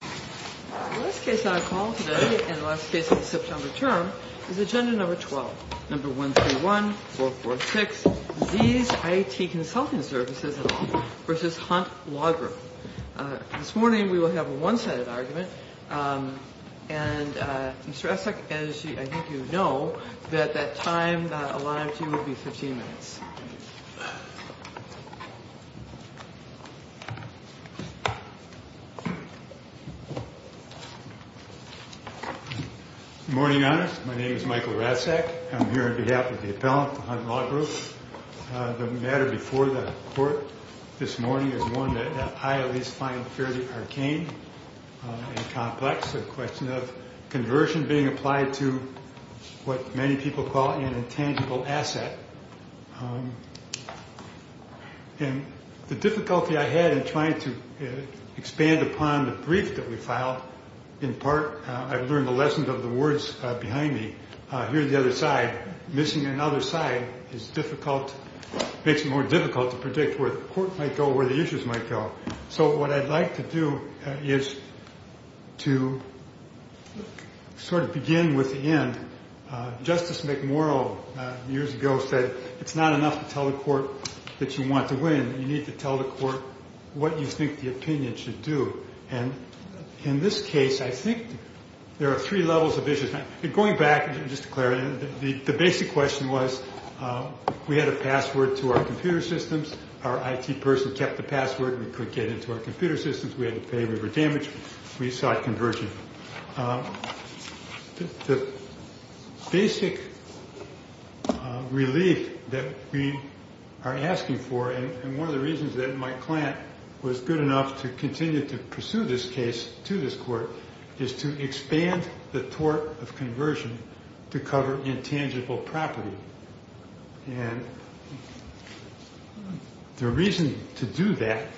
The last case on call today, and the last case of the September term, is agenda number 12. Number 131446, Z's IT Consulting Services, Inc. v. Hunt Law Group. This morning we will have a one-sided argument, and Mr. Essek, as I think you know, that that time allotted to you will be 15 minutes. Good morning, Your Honor. My name is Michael Ratzak. I'm here on behalf of the appellant for Hunt Law Group. The matter before the Court this morning is one that I at least find fairly arcane and complex, a question of conversion being applied to what many people call an intangible asset. And the difficulty I had in trying to expand upon the brief that we filed, in part I've learned the lessons of the words behind me, here on the other side, missing another side is difficult, makes it more difficult to predict where the Court might go, where the issues might go. So what I'd like to do is to sort of begin with the end. Justice McMurrow years ago said it's not enough to tell the Court that you want to win, you need to tell the Court what you think the opinion should do. And in this case I think there are three levels of issues. Going back, just to clarify, the basic question was we had a password to our computer systems, our IT person kept the password, we could get into our computer systems, we had to pay, we were damaged, we sought conversion. The basic relief that we are asking for, and one of the reasons that my client was good enough to continue to pursue this case to this Court, is to expand the tort of conversion to cover intangible property. And the reason to do that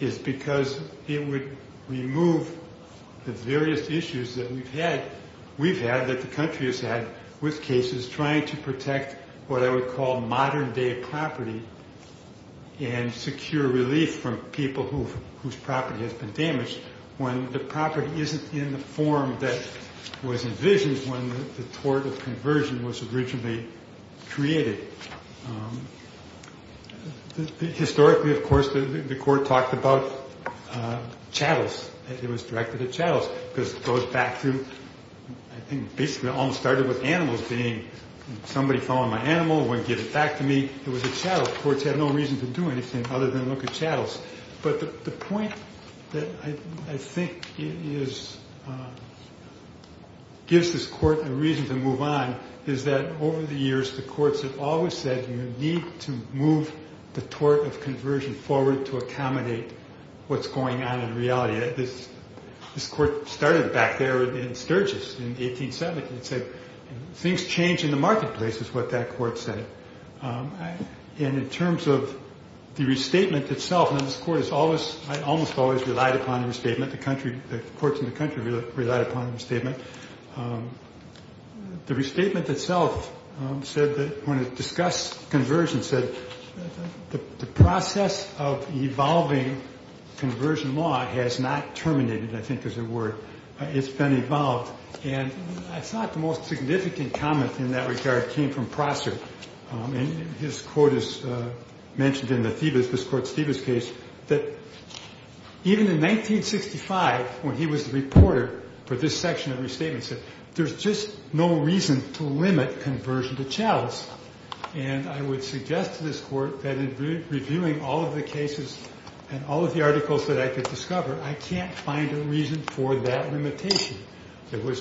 is because it would remove the various issues that we've had, that the country has had with cases trying to protect what I would call modern day property and secure relief from people whose property has been damaged when the property isn't in the form that was envisioned when the tort of conversion was originally created. Historically, of course, the Court talked about chattels. It was directed at chattels because it goes back to, I think basically it all started with animals being, somebody found my animal, wouldn't give it back to me, it was at chattels. Courts have no reason to do anything other than look at chattels. But the point that I think gives this Court a reason to move on is that over the years the Courts have always said you need to move the tort of conversion forward to accommodate what's going on in reality. This Court started back there in Sturgis in 1870 and said, things change in the marketplace is what that Court said. And in terms of the restatement itself, and this Court has almost always relied upon the restatement, the Courts in the country relied upon the restatement. The restatement itself said that when it discussed conversion, said the process of evolving conversion law has not terminated, I think is the word. It's been evolved. And I thought the most significant comment in that regard came from Prosser. And his quote is mentioned in the Thebes, this Court's Thebes case, that even in 1965 when he was the reporter for this section of the restatement said, there's just no reason to limit conversion to chattels. And I would suggest to this Court that in reviewing all of the cases and all of the articles that I could discover, I can't find a reason for that limitation. It was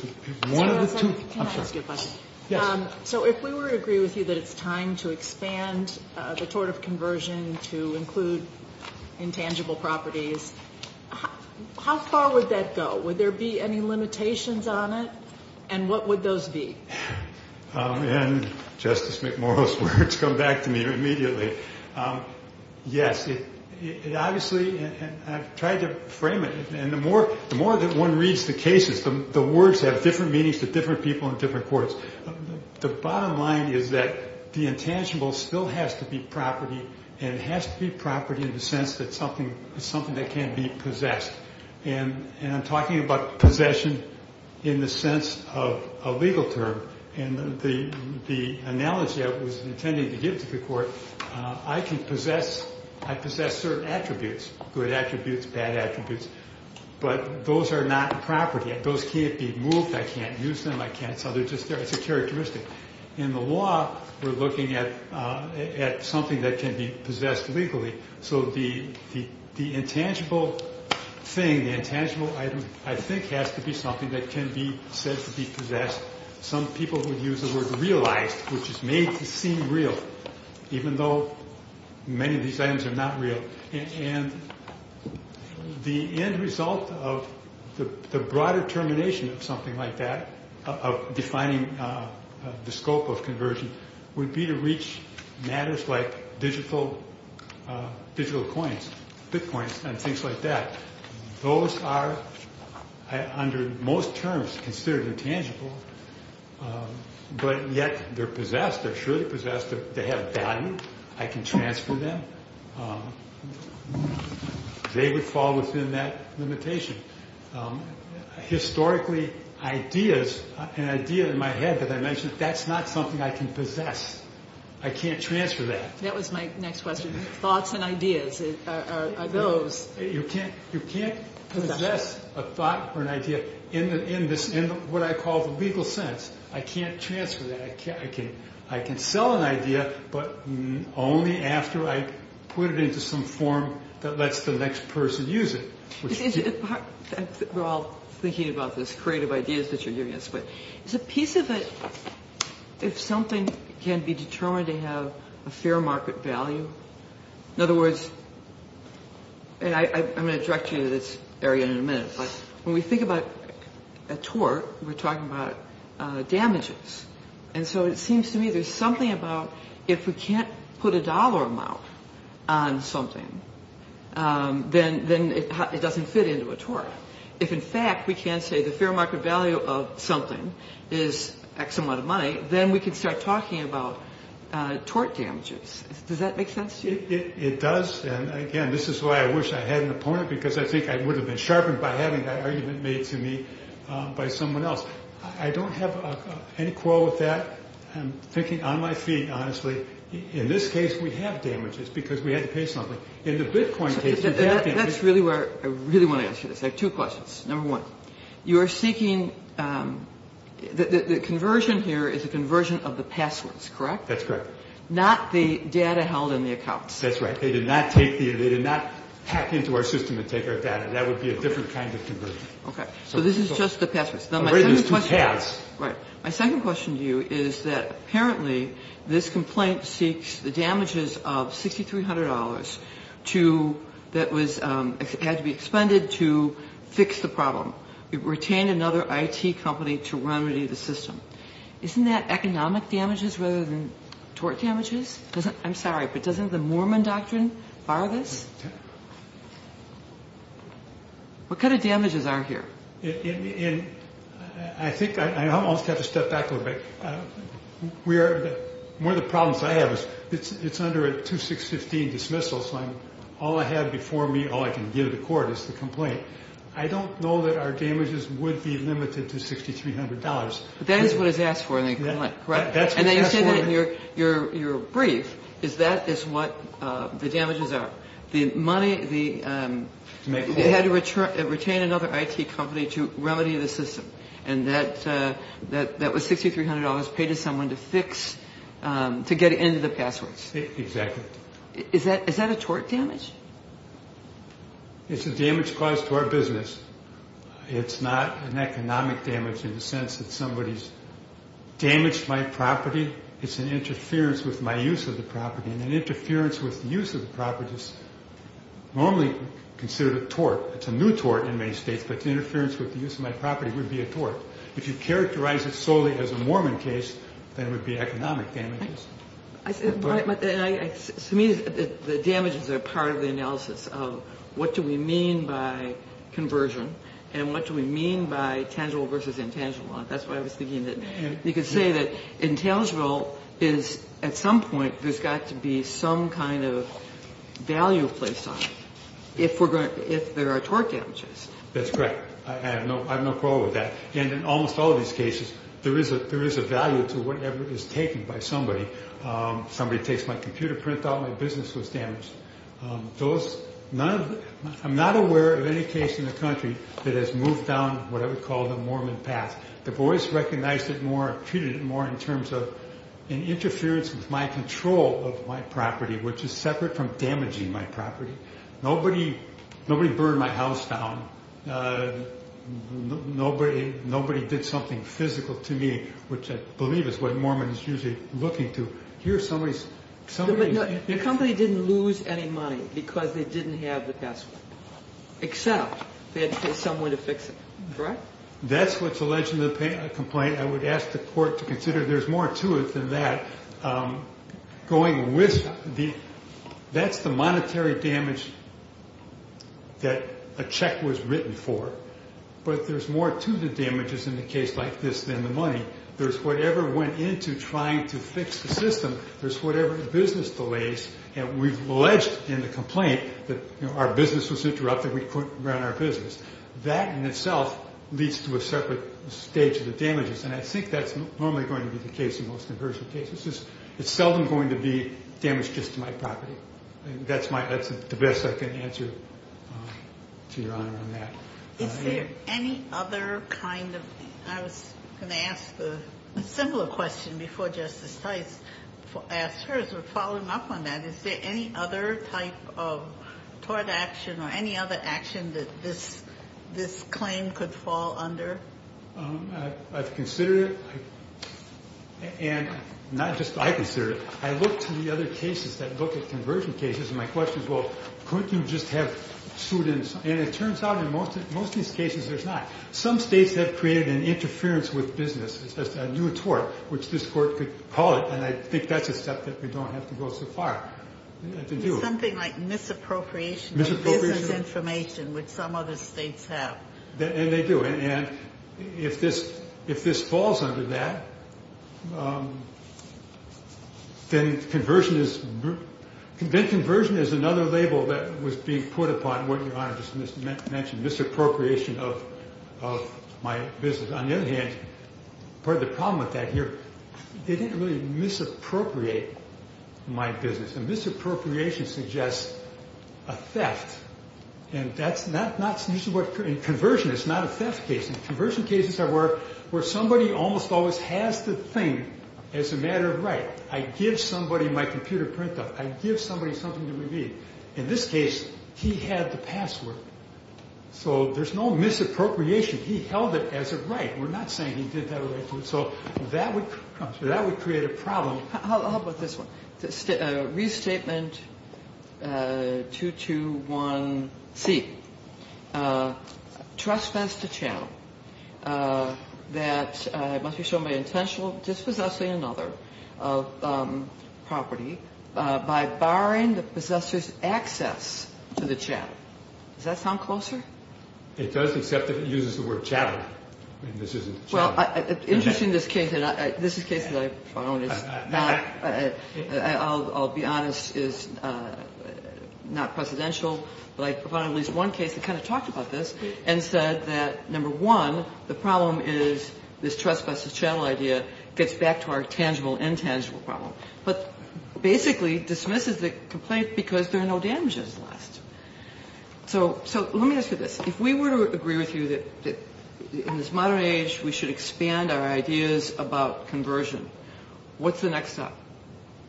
one of the two. Can I ask you a question? Yes. So if we were to agree with you that it's time to expand the tort of conversion to include intangible properties, how far would that go? Would there be any limitations on it? And what would those be? And Justice McMorrow's words come back to me immediately. Yes. It obviously, I've tried to frame it. And the more that one reads the cases, the words have different meanings to different people in different courts. The bottom line is that the intangible still has to be property, and it has to be property in the sense that it's something that can be possessed. And I'm talking about possession in the sense of a legal term. And the analogy I was intending to give to the Court, I can possess certain attributes, good attributes, bad attributes, but those are not property. Those can't be moved. I can't use them. I can't sell them. It's a characteristic. In the law, we're looking at something that can be possessed legally. So the intangible thing, the intangible item, I think has to be something that can be said to be possessed. Some people would use the word realized, which is made to seem real, even though many of these items are not real. And the end result of the broader termination of something like that, of defining the scope of conversion, would be to reach matters like digital coins, bitcoins, and things like that. Those are, under most terms, considered intangible, but yet they're possessed. They're surely possessed. They have value. I can transfer them. They would fall within that limitation. Historically, ideas, an idea in my head that I mentioned, that's not something I can possess. I can't transfer that. That was my next question. Thoughts and ideas are those. You can't possess a thought or an idea in what I call the legal sense. I can't transfer that. I can sell an idea, but only after I put it into some form that lets the next person use it. We're all thinking about this creative ideas that you're giving us, but is a piece of it, if something can be determined to have a fair market value? In other words, and I'm going to direct you to this area in a minute, but when we think about a tort, we're talking about damages. And so it seems to me there's something about if we can't put a dollar amount on something, then it doesn't fit into a tort. If, in fact, we can say the fair market value of something is X amount of money, then we can start talking about tort damages. Does that make sense to you? It does. And, again, this is why I wish I had an opponent, because I think I would have been sharpened by having that argument made to me by someone else. I don't have any quarrel with that. I'm thinking on my feet, honestly. In this case, we have damages because we had to pay something. In the Bitcoin case, we have damages. That's really where I really want to ask you this. I have two questions. Number one, you are seeking the conversion here is a conversion of the passwords, correct? That's correct. Not the data held in the accounts. That's right. They did not hack into our system and take our data. That would be a different kind of conversion. Okay. So this is just the passwords. Right. My second question to you is that apparently this complaint seeks the damages of $6,300 that had to be expended to fix the problem. It retained another IT company to remedy the system. Isn't that economic damages rather than tort damages? I'm sorry, but doesn't the Mormon doctrine bar this? What kind of damages are here? I think I almost have to step back a little bit. One of the problems I have is it's under a 2615 dismissal, so all I have before me, all I can give the court is the complaint. I don't know that our damages would be limited to $6,300. But that is what it's asked for in the complaint, correct? That's what it's asked for. Your brief is that is what the damages are. They had to retain another IT company to remedy the system, and that was $6,300 paid to someone to fix, to get into the passwords. Exactly. Is that a tort damage? It's a damage caused to our business. It's not an economic damage in the sense that somebody's damaged my property. It's an interference with my use of the property, and an interference with the use of the property is normally considered a tort. It's a new tort in many states, but interference with the use of my property would be a tort. If you characterize it solely as a Mormon case, then it would be economic damages. To me, the damages are part of the analysis of what do we mean by conversion and what do we mean by tangible versus intangible. That's why I was thinking that you could say that intangible is at some point there's got to be some kind of value placed on it if there are tort damages. That's correct. I have no quarrel with that. In almost all of these cases, there is a value to whatever is taken by somebody. Somebody takes my computer printout, my business was damaged. I'm not aware of any case in the country that has moved down what I would call the Mormon path. The boys recognized it more, treated it more in terms of an interference with my control of my property, which is separate from damaging my property. Nobody burned my house down. Nobody did something physical to me, which I believe is what Mormon is usually looking to. Here, somebody's- The company didn't lose any money because they didn't have the password, except they had to pay someone to fix it. Correct? That's what's alleged in the complaint. I would ask the court to consider there's more to it than that. That's the monetary damage that a check was written for, but there's more to the damages in a case like this than the money. There's whatever went into trying to fix the system. There's whatever business delays. We've alleged in the complaint that our business was interrupted. We couldn't run our business. That in itself leads to a separate stage of the damages, and I think that's normally going to be the case in most inversion cases. It's seldom going to be damage just to my property. That's the best I can answer to Your Honor on that. Is there any other kind of- I was going to ask a similar question before Justice Tice asked hers, but following up on that, is there any other type of tort action or any other action that this claim could fall under? I've considered it, and not just I've considered it. I look to the other cases that look at conversion cases, and my question is, well, couldn't you just have students? And it turns out in most of these cases there's not. Some states have created an interference with business, a new tort, which this Court could call it, and I think that's a step that we don't have to go so far to do. Something like misappropriation of business information, which some other states have. And they do. And if this falls under that, then conversion is another label that was being put upon what Your Honor just mentioned, misappropriation of my business. On the other hand, part of the problem with that here, they didn't really misappropriate my business, and misappropriation suggests a theft. And that's not usually what conversion is. It's not a theft case. Conversion cases are where somebody almost always has the thing as a matter of right. I give somebody my computer printout. I give somebody something to read. In this case, he had the password. So there's no misappropriation. He held it as a right. We're not saying he did that. So that would create a problem. How about this one? Restatement 221C. Trespass to channel that must be shown by intentional dispossessing another property by barring the possessor's access to the channel. Does that sound closer? It does, except that it uses the word channel. I mean, this isn't channel. Interesting this case. This is a case that I found is not, I'll be honest, is not precedential. But I found at least one case that kind of talked about this and said that, number one, the problem is this trespass to channel idea gets back to our tangible, intangible problem. But basically dismisses the complaint because there are no damages lost. So let me ask you this. If we were to agree with you that in this modern age we should expand our ideas about conversion, what's the next step?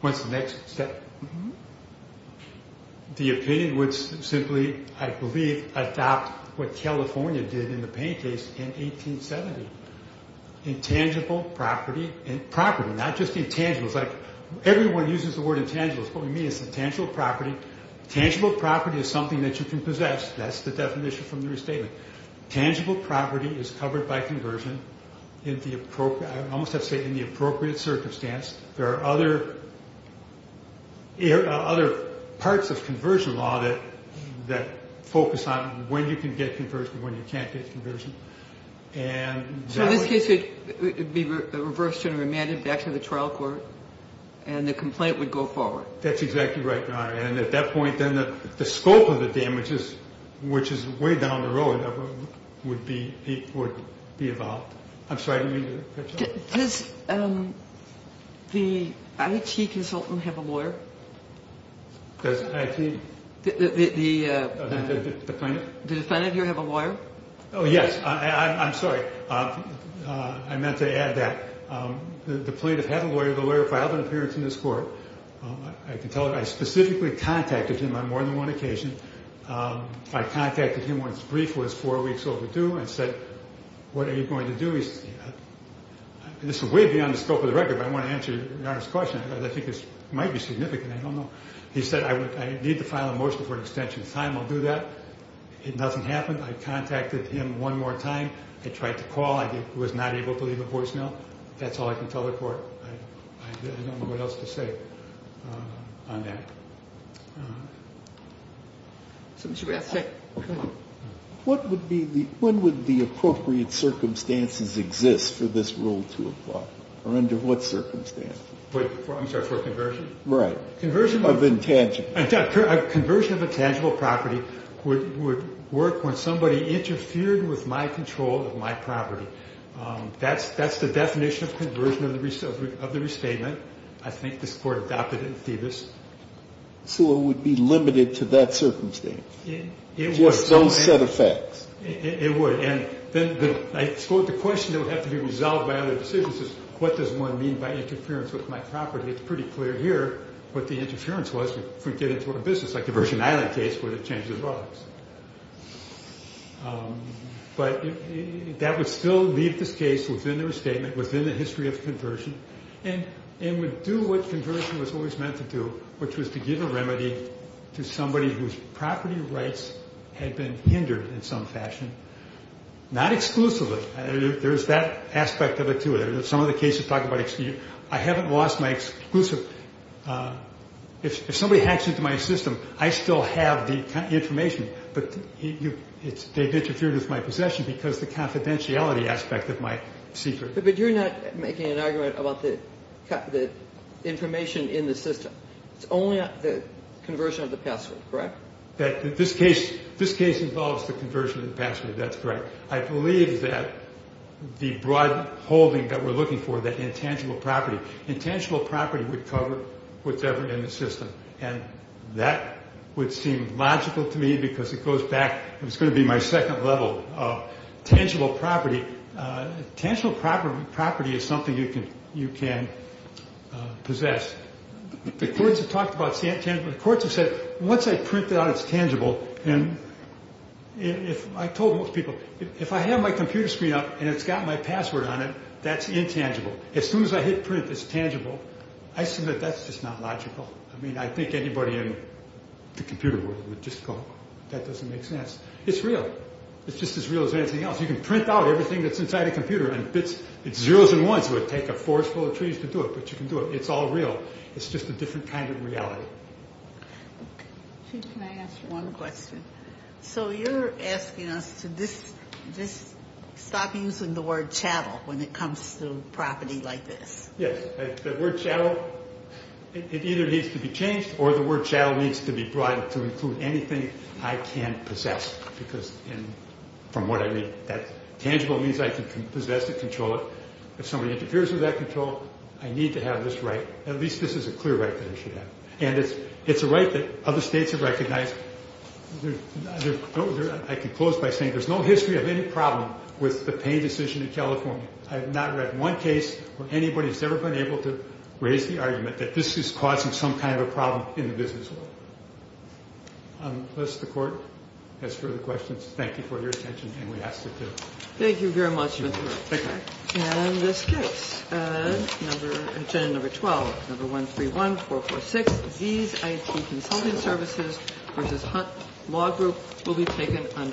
What's the next step? The opinion would simply, I believe, adopt what California did in the Payne case in 1870. Intangible property and property, not just intangibles. Everyone uses the word intangibles. What we mean is intangible property. Tangible property is something that you can possess. That's the definition from your statement. Tangible property is covered by conversion in the appropriate, I almost have to say, in the appropriate circumstance. There are other parts of conversion law that focus on when you can get conversion, when you can't get conversion. So this case would be reversed and remanded back to the trial court, and the complaint would go forward. That's exactly right, Your Honor. And at that point then the scope of the damages, which is way down the road, would be evolved. I'm sorry. Does the IT consultant have a lawyer? Does IT? The plaintiff? The defendant here have a lawyer? Oh, yes. I'm sorry. I meant to add that the plaintiff had a lawyer. The lawyer filed an appearance in this court. I can tell you I specifically contacted him on more than one occasion. I contacted him when his brief was four weeks overdue and said, what are you going to do? This is way beyond the scope of the record, but I want to answer Your Honor's question. I think this might be significant. I don't know. He said, I need to file a motion for an extension of time. I'll do that. It doesn't happen. I contacted him one more time. I tried to call. I was not able to leave a voicemail. That's all I can tell the court. I don't know what else to say on that. So, Mr. Graf, go ahead. What would be the ñ when would the appropriate circumstances exist for this rule to apply? Or under what circumstances? Wait. I'm sorry. For a conversion? Right. Of intangible. A conversion of intangible property would work when somebody interfered with my control of my property. That's the definition of conversion of the restatement. I think this Court adopted it in Thiebus. So it would be limited to that circumstance? It would. Just those set of facts. It would. And then I suppose the question that would have to be resolved by other decisions is, what does one mean by interference with my property? It's pretty clear here what the interference was if we get into a business, like the Virgin Island case where they changed the drugs. But that would still leave this case within the restatement, within the history of conversion, and would do what conversion was always meant to do, which was to give a remedy to somebody whose property rights had been hindered in some fashion. Not exclusively. There's that aspect of it, too. Some of the cases talk about ñ I haven't lost my exclusive. If somebody hacks into my system, I still have the information, but they've interfered with my possession because of the confidentiality aspect of my secret. But you're not making an argument about the information in the system. It's only the conversion of the password, correct? This case involves the conversion of the password. That's correct. I believe that the broad holding that we're looking for, that intangible property, intangible property would cover whatever's in the system. And that would seem logical to me because it goes back ñ it's going to be my second level of tangible property. Tangible property is something you can possess. The courts have talked about tangible. The courts have said, once I print out it's tangible, and I told most people, if I have my computer screen up and it's got my password on it, that's intangible. As soon as I hit print, it's tangible. I assume that that's just not logical. I mean, I think anybody in the computer world would just go, that doesn't make sense. It's real. It's just as real as anything else. You can print out everything that's inside a computer and it's zeros and ones. It would take a forest full of trees to do it, but you can do it. It's all real. It's just a different kind of reality. Can I ask one question? So you're asking us to just stop using the word ìchattelî when it comes to property like this. Yes. The word ìchattelî, it either needs to be changed or the word ìchattelî needs to be brought to include anything I can possess because from what I read, that tangible means I can possess it, control it. If somebody interferes with that control, I need to have this right. At least this is a clear right that I should have. And it's a right that other states have recognized. I can close by saying there's no history of any problem with the Payne decision in California. I have not read one case where anybody has ever been able to raise the argument that this is causing some kind of a problem in the business world. Unless the Court has further questions, thank you for your attention and we ask it to. Thank you very much, Mr. Roach. Thank you. And this case, agenda number 12, number 131446, ìThese IT Consulting Services v. Hunt Law Group will be taken under its own jurisdiction.î